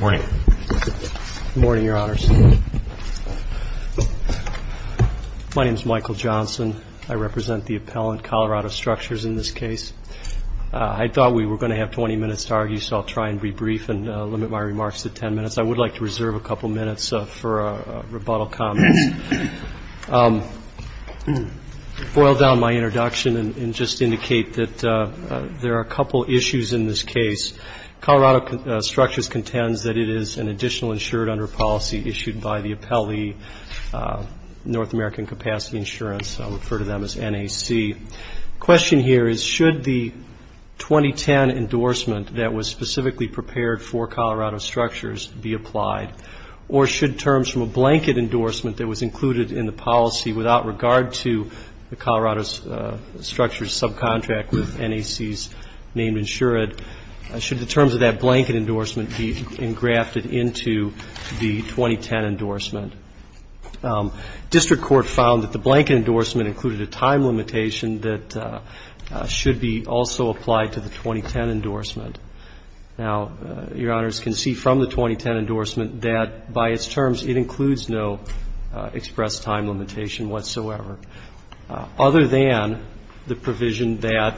Good morning, your honors. My name is Michael Johnson. I represent the appellant Colorado Structures in this case. I thought we were going to have 20 minutes to argue, so I'll try and be brief and limit my remarks to 10 minutes. I would like to reserve a couple minutes for rebuttal comments. Boil down my introduction and just indicate that there are a couple issues in this case. Colorado Structures contends that it is an additional insured under policy issued by the appellee, North American Capacity Insurance. I'll refer to them as NAC. The question here is should the 2010 endorsement that was specifically prepared for Colorado Structures be applied, or should terms from a blanket endorsement that was included in the policy without regard to the Colorado Structures subcontract with NAC's name insured, should the terms of that blanket endorsement be engrafted into the 2010 endorsement? District Court found that the blanket endorsement included a time limitation that should be also applied to the 2010 endorsement. Now, your honors, can see from the 2010 endorsement that by its terms it includes no express time limitation whatsoever, other than the provision that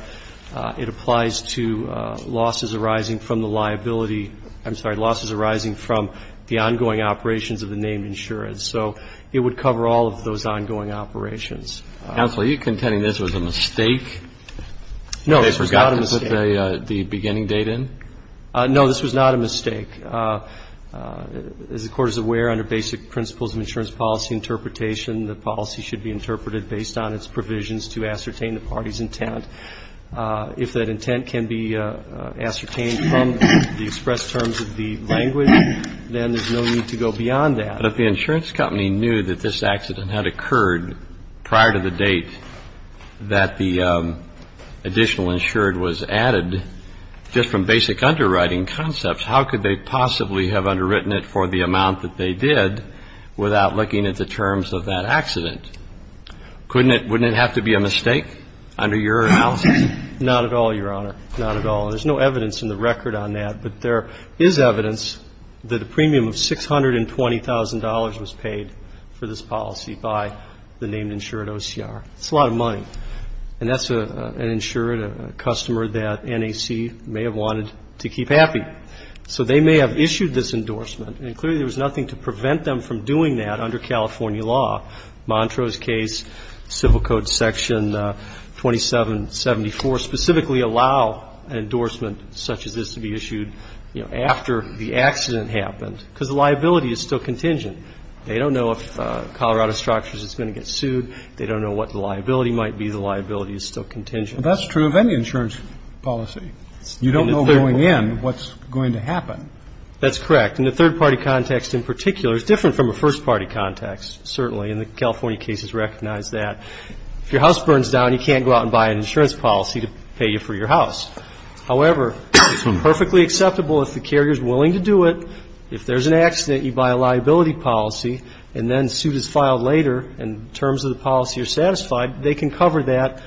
it applies to losses arising from the liability ‑‑ I'm sorry, losses arising from the ongoing operations of the name insurance. So it would cover all of those ongoing operations. Counsel, are you contending this was a mistake? No, this was not a mistake. They forgot to put the beginning date in? No, this was not a mistake. As the Court is aware, under basic principles of insurance policy interpretation, the policy should be interpreted based on its provisions to ascertain the party's intent. If that intent can be ascertained from the express terms of the language, then there's no need to go beyond that. But if the insurance company knew that this accident had occurred prior to the date that the additional insured was added, just from basic underwriting concepts, how could they possibly have underwritten it for the amount that they did without looking at the terms of that accident? Wouldn't it have to be a mistake under your analysis? Not at all, your honor. Not at all. There's no evidence in the record on that, but there is evidence that a premium of $620,000 was paid for this policy by the named insured OCR. It's a lot of money. And that's an insured, a customer that NAC may have wanted to keep happy. So they may have issued this endorsement, and clearly there was nothing to prevent them from doing that under California law. Montrose case, Civil Code Section 2774 specifically allow an endorsement such as this to be issued, you know, after the accident happened, because the liability is still contingent. They don't know if Colorado Structures is going to get sued. They don't know what the liability might be. The liability is still contingent. But that's true of any insurance policy. You don't know going in what's going to happen. That's correct. In a third-party context in particular, it's different from a first-party context, certainly, and the California cases recognize that. If your house burns down, you can't go out and buy an insurance policy to pay for your house. However, it's perfectly acceptable if the carrier is willing to do it. If there's an accident, you buy a liability policy, and then the suit is filed later, and the terms of the policy are satisfied, they can cover that,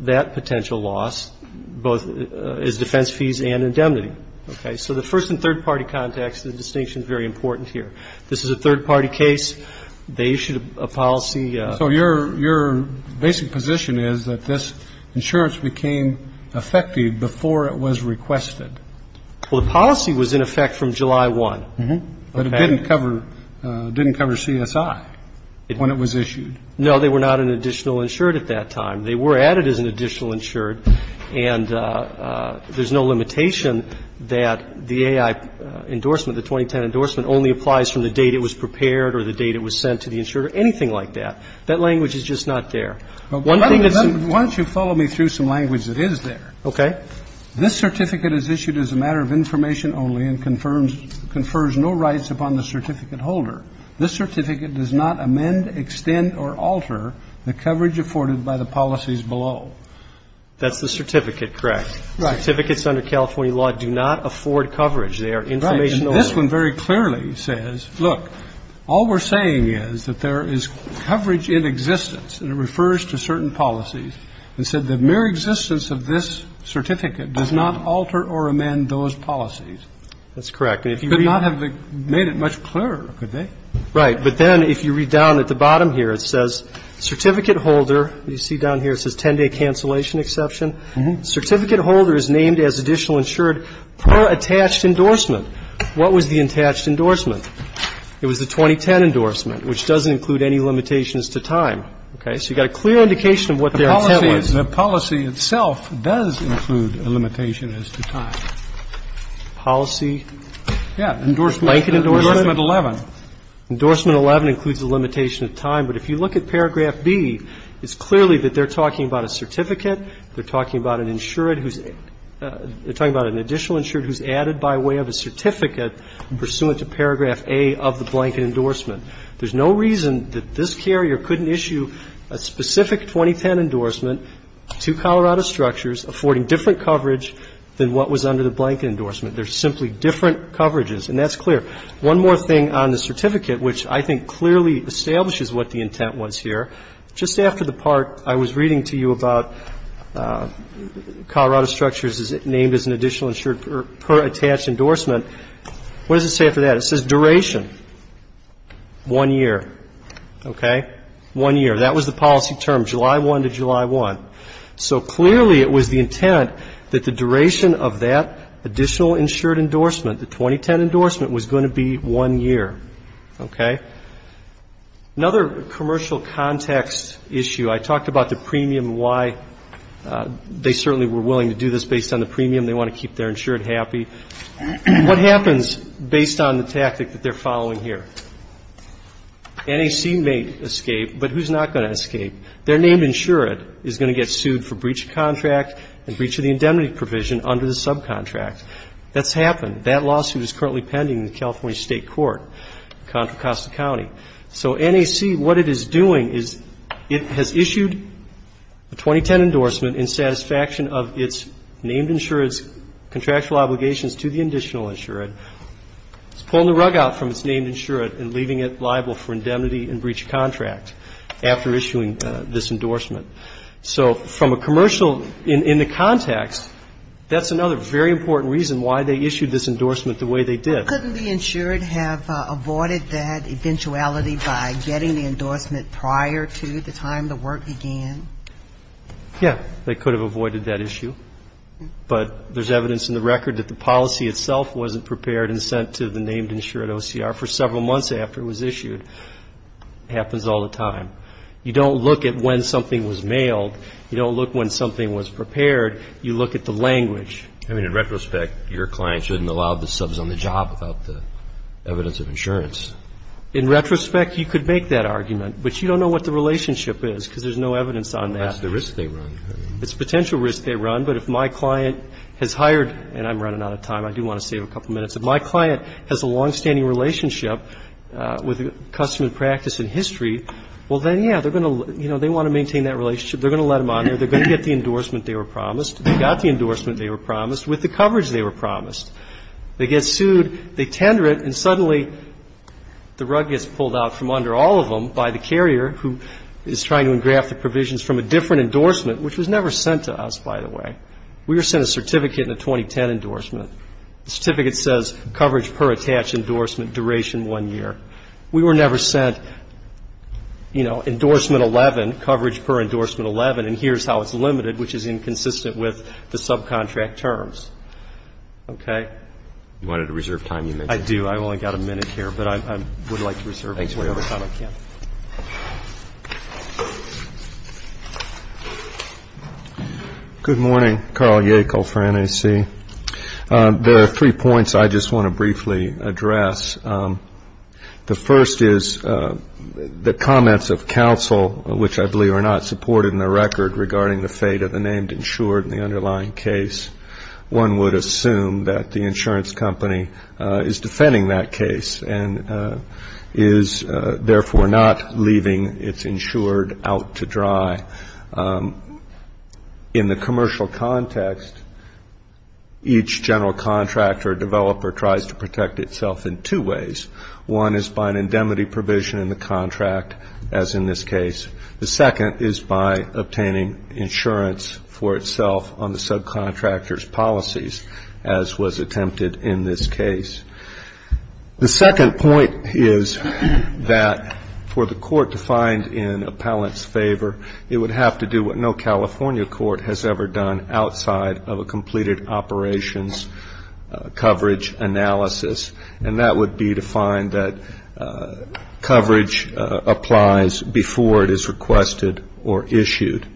that potential loss, both as defense fees and indemnity. Okay. So the first and third-party context, the distinction is very important here. This is a third-party case. They issued a policy. So your basic position is that this insurance became effective before it was requested. Well, the policy was in effect from July 1. But it didn't cover, didn't cover CSI when it was issued. No, they were not an additional insured at that time. They were added as an additional insured, and there's no limitation that the AI endorsement, the 2010 endorsement, only applies from the date it was prepared or the date it was sent to the insurer, anything like that. That language is just not there. Why don't you follow me through some language that is there. Okay. This certificate is issued as a matter of information only and confers no rights upon the certificate holder. This certificate does not amend, extend, or alter the coverage afforded by the policies below. That's the certificate, correct? Right. Certificates under California law do not afford coverage. They are information only. Right. And this one very clearly says, look, all we're saying is that there is coverage in existence, and it refers to certain policies, and said the mere existence of this certificate does not alter or amend those policies. That's correct. But not have they made it much clearer, could they? Right. But then if you read down at the bottom here, it says certificate holder. You see down here it says 10-day cancellation exception. Certificate holder is named as additional insured per attached endorsement. What was the attached endorsement? It was the 2010 endorsement, which doesn't include any limitations to time. Okay. So you've got a clear indication of what their intent was. The policy itself does include a limitation as to time. Policy? Yeah. Endorsement. Blanket endorsement. Endorsement 11. Endorsement 11 includes a limitation of time. But if you look at paragraph B, it's clearly that they're talking about a certificate. They're talking about an insured who's they're talking about an additional insured who's added by way of a certificate pursuant to paragraph A of the blanket endorsement. There's no reason that this carrier couldn't issue a specific 2010 endorsement to Colorado Structures affording different coverage than what was under the blanket endorsement. They're simply different coverages. And that's clear. One more thing on the certificate, which I think clearly establishes what the intent was here. Just after the part I was reading to you about Colorado Structures is named as an additional insured per attached endorsement, what does it say after that? It says duration. One year. Okay. One year. That was the policy term, July 1 to July 1. So clearly it was the intent that the duration of that additional insured endorsement, the 2010 endorsement, was going to be one year. Okay. Another commercial context issue. I talked about the premium and why they certainly were willing to do this based on the premium. They want to keep their insured happy. What happens based on the tactic that they're following here? NAC may escape, but who's not going to escape? Their named insured is going to get sued for breach of contract and breach of the indemnity provision under the subcontract. That's happened. That lawsuit is currently pending in the California State Court, Contra Costa County. So NAC, what it is doing is it has issued a 2010 endorsement in satisfaction of its named insured's contractual obligations to the additional insured. It's pulling the rug out from its named insured and leaving it liable for indemnity and breach of contract after issuing this endorsement. So from a commercial, in the context, that's another very important reason why they issued this endorsement the way they did. Couldn't the insured have avoided that eventuality by getting the endorsement prior to the time the work began? Yeah. They could have avoided that issue. But there's evidence in the record that the policy itself wasn't prepared and sent to the named insured OCR for several months after it was issued. It happens all the time. You don't look at when something was mailed. You don't look when something was prepared. You look at the language. I mean, in retrospect, your client shouldn't have allowed the subs on the job without the evidence of insurance. In retrospect, you could make that argument. But you don't know what the relationship is because there's no evidence on that. That's the risk they run. It's a potential risk they run. But if my client has hired – and I'm running out of time. I do want to save a couple minutes. If my client has a longstanding relationship with a customer in practice and history, well, then, yeah, they're going to, you know, they want to maintain that relationship. They're going to let them on there. They're going to get the endorsement they were promised. They got the endorsement they were promised with the coverage they were promised. They get sued. They tender it. And suddenly, the rug gets pulled out from under all of them by the carrier who is trying to engraft the provisions from a different endorsement, which was never sent to us, by the way. We were sent a certificate and a 2010 endorsement. The certificate says coverage per attached endorsement duration one year. We were never sent, you know, endorsement 11, coverage per endorsement 11, and here's how it's limited, which is inconsistent with the subcontract terms. Okay? You wanted to reserve time, you mentioned. I do. I've only got a minute here. But I would like to reserve whatever time I can. Good morning. Carl Yackel for NAC. There are three points I just want to briefly address. The first is the comments of counsel, which I believe are not supported in the record, regarding the fate of the named insured in the underlying case. One would assume that the insurance company is defending that case and is therefore not leaving its insured out to dry. In the commercial context, each general contractor or developer tries to protect itself in two ways. One is by an indemnity provision in the contract, as in this case. The second is by obtaining insurance for itself on the subcontractor's policies, as was attempted in this case. The second point is that for the court to find in appellant's favor, it would have to do what no California court has ever done outside of a completed operations coverage analysis, and that would be to find that coverage applies before it is requested or issued.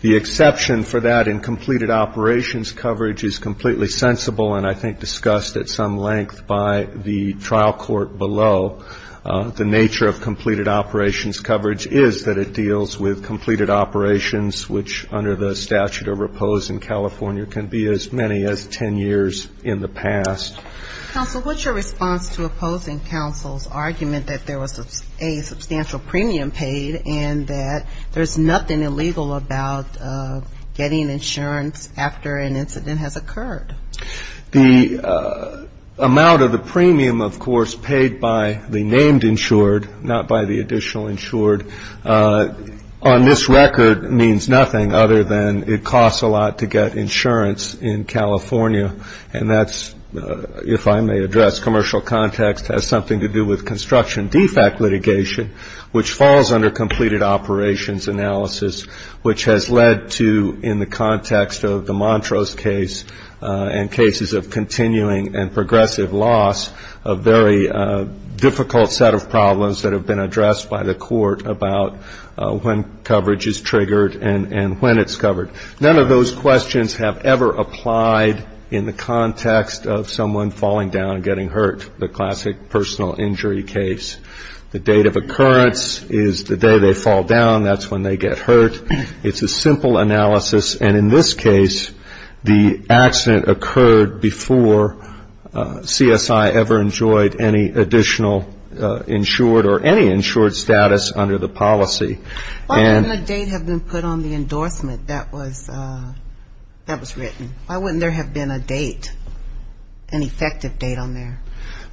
The exception for that in completed operations coverage is completely sensible and I think discussed at some length by the trial court below. The nature of completed operations coverage is that it deals with completed operations, which under the statute of repose in California can be as many as 10 years in the past. Counsel, what's your response to opposing counsel's argument that there was a substantial premium paid and that there's nothing illegal about getting insurance after an incident has occurred? The amount of the premium, of course, paid by the named insured, not by the additional insured, on this record means nothing other than it costs a lot to get insurance in California, and that's, if I may address, commercial context has something to do with construction de facto litigation, which falls under completed operations analysis, which has led to in the context of the Montrose case and cases of continuing and progressive loss, a very difficult set of problems that have been addressed by the court about when coverage is triggered and when it's covered. None of those questions have ever applied in the context of someone falling down and getting hurt, the classic personal injury case. The date of occurrence is the day they fall down, that's when they get hurt. It's a simple analysis, and in this case, the accident occurred before CSI ever enjoyed any additional insured or any insured status under the policy. Why wouldn't a date have been put on the endorsement that was written? Why wouldn't there have been a date, an effective date on there?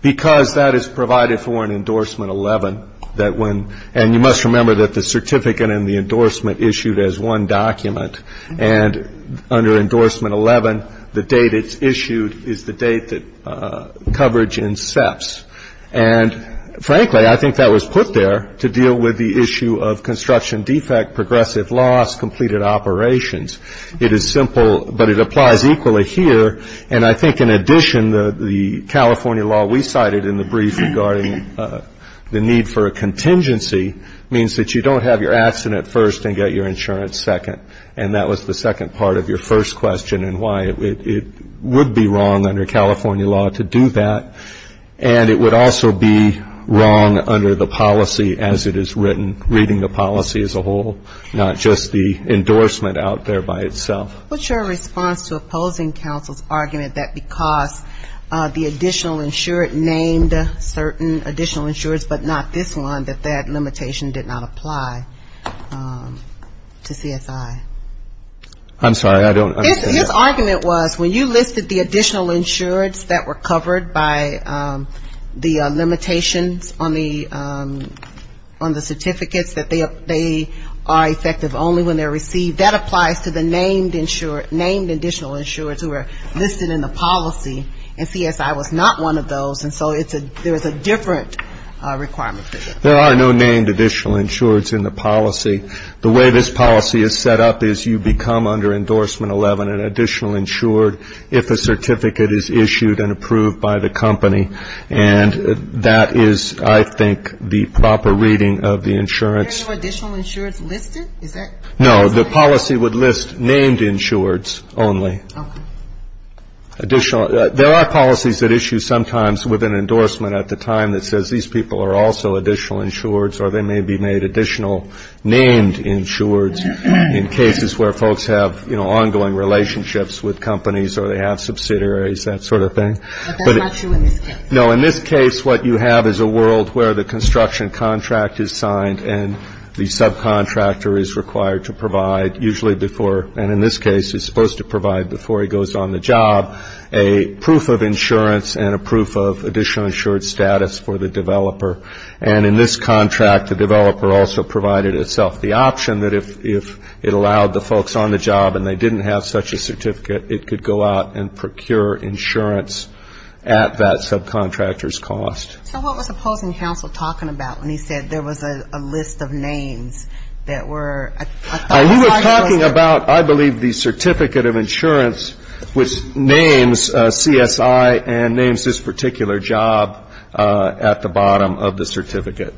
Because that is provided for in Endorsement 11, and you must remember that the certificate and the endorsement issued as one document, and under Endorsement 11, the date it's issued is the date that coverage incepts. And frankly, I think that was put there to deal with the issue of construction defect, progressive loss, completed operations. It is simple, but it applies equally here, and I think in addition, the California law we cited in the brief regarding the need for a contingency means that you don't have your accident first and get your insurance second, and that was the second part of your first question and why it would be wrong under California law to do that. And it would also be wrong under the policy as it is written, reading the policy as a whole, not just the endorsement out there by itself. What's your response to opposing counsel's argument that because the additional insured named certain additional insureds but not this one, that that limitation did not apply to CSI? I'm sorry, I don't understand. His argument was when you listed the additional insureds that were covered by the limitations on the certificates, that they are effective only when they're received, that applies to the named insured, named additional insureds who are listed in the policy, and CSI was not one of those, and so there is a different requirement. There are no named additional insureds in the policy. The way this policy is set up is you become under endorsement 11 an additional insured if a certificate is issued and approved by the company, and that is, I think, the proper reading of the insurance. Are there no additional insureds listed? No, the policy would list named insureds only. Okay. There are policies that issue sometimes with an endorsement at the time that says these people are also additional insureds or they may be made additional named insureds in cases where folks have, you know, ongoing relationships with companies or they have subsidiaries, that sort of thing. But that's not true in this case. No, in this case, what you have is a world where the construction contract is signed and the subcontractor is required to provide, usually before, and in this case, he's supposed to provide before he goes on the job, a proof of insurance and a proof of additional insured status for the developer. And in this contract, the developer also provided itself the option that if it allowed the folks on the job and they didn't have such a certificate, it could go out and procure insurance at that subcontractor's cost. So what was the opposing counsel talking about when he said there was a list of names that were? You were talking about, I believe, the certificate of insurance which names CSI and names this particular job at the bottom of the certificate.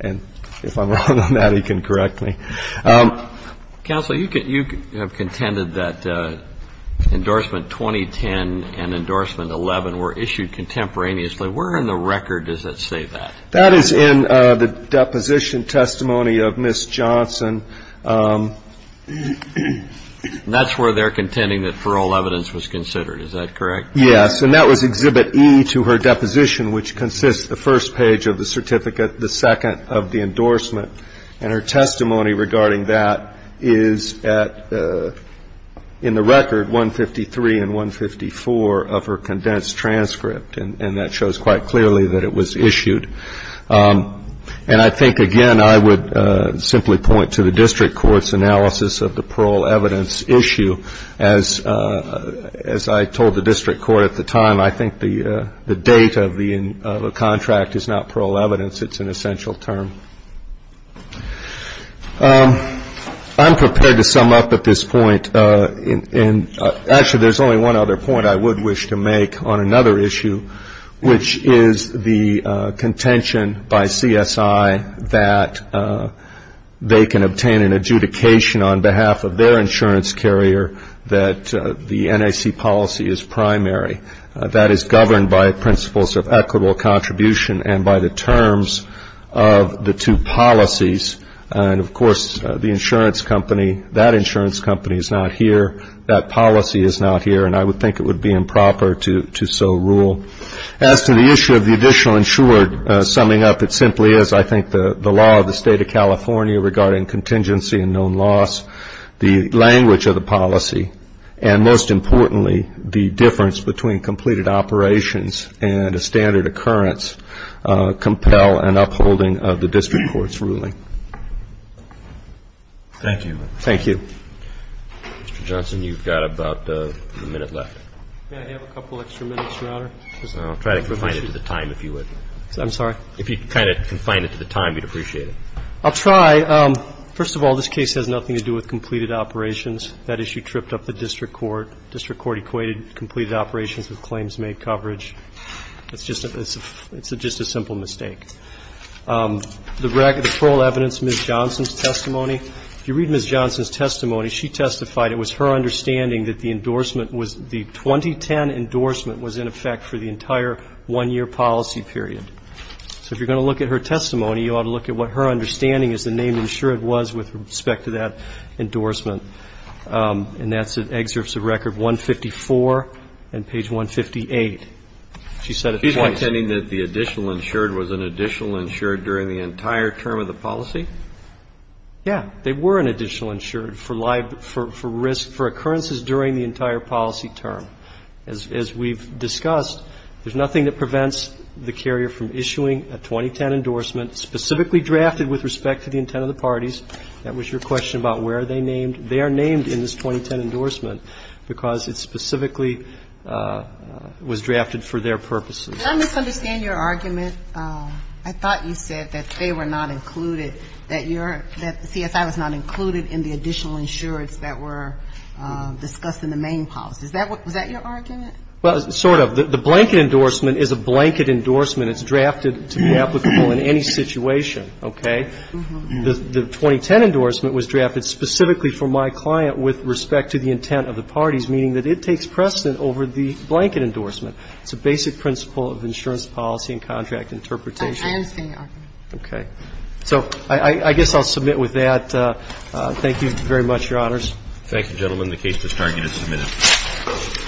And if I'm wrong on that, he can correct me. Counsel, you have contended that endorsement 2010 and endorsement 11 were issued contemporaneously. Where in the record does that say that? That is in the deposition testimony of Ms. Johnson. That's where they're contending that for all evidence was considered. Is that correct? Yes. And that was Exhibit E to her deposition, which consists the first page of the certificate, the second of the endorsement. And her testimony regarding that is at, in the record, 153 and 154 of her condensed transcript. And that shows quite clearly that it was issued. And I think, again, I would simply point to the district court's analysis of the parole evidence issue. As I told the district court at the time, I think the date of the contract is not parole evidence. It's an essential term. I'm prepared to sum up at this point. Actually, there's only one other point I would wish to make on another issue, which is the contention by CSI that they can obtain an adjudication on behalf of their insurance carrier that the NIC policy is primary. That is governed by principles of equitable contribution and by the terms of the two policies. And, of course, the insurance company, that insurance company is not here, that policy is not here, and I would think it would be improper to so rule. As to the issue of the additional insured, summing up, it simply is, I think, the law of the State of California regarding contingency and known loss, the language of the policy, and, most importantly, the difference between completed operations and a standard occurrence compel an upholding of the district court's ruling. Thank you. Thank you. Mr. Johnson, you've got about a minute left. May I have a couple extra minutes, Your Honor? I'll try to confine it to the time, if you would. I'm sorry? If you could kind of confine it to the time, we'd appreciate it. I'll try. First of all, this case has nothing to do with completed operations. That issue tripped up the district court. The district court equated completed operations with claims made coverage. It's just a simple mistake. The parole evidence, Ms. Johnson's testimony, if you read Ms. Johnson's testimony, she testified it was her understanding that the endorsement was, the 2010 endorsement was in effect for the entire one-year policy period. So if you're going to look at her testimony, you ought to look at what her understanding is the name insured was with respect to that endorsement. And that's in excerpts of record 154 and page 158. She said at the point. She's intending that the additional insured was an additional insured during the entire term of the policy? Yeah. They were an additional insured for risk, for occurrences during the entire policy term. As we've discussed, there's nothing that prevents the carrier from issuing a 2010 endorsement specifically drafted with respect to the intent of the parties. That was your question about where are they named. They are named in this 2010 endorsement because it specifically was drafted for their purposes. Did I misunderstand your argument? I thought you said that they were not included, that CSI was not included in the additional insureds that were discussed in the main policy. Was that your argument? Well, sort of. The blanket endorsement is a blanket endorsement. It's drafted to be applicable in any situation. Okay? The 2010 endorsement was drafted specifically for my client with respect to the intent of the parties, meaning that it takes precedent over the blanket endorsement. It's a basic principle of insurance policy and contract interpretation. I understand your argument. Okay. So I guess I'll submit with that. Thank you very much, Your Honors. Thank you, gentlemen. The case is targeted and submitted.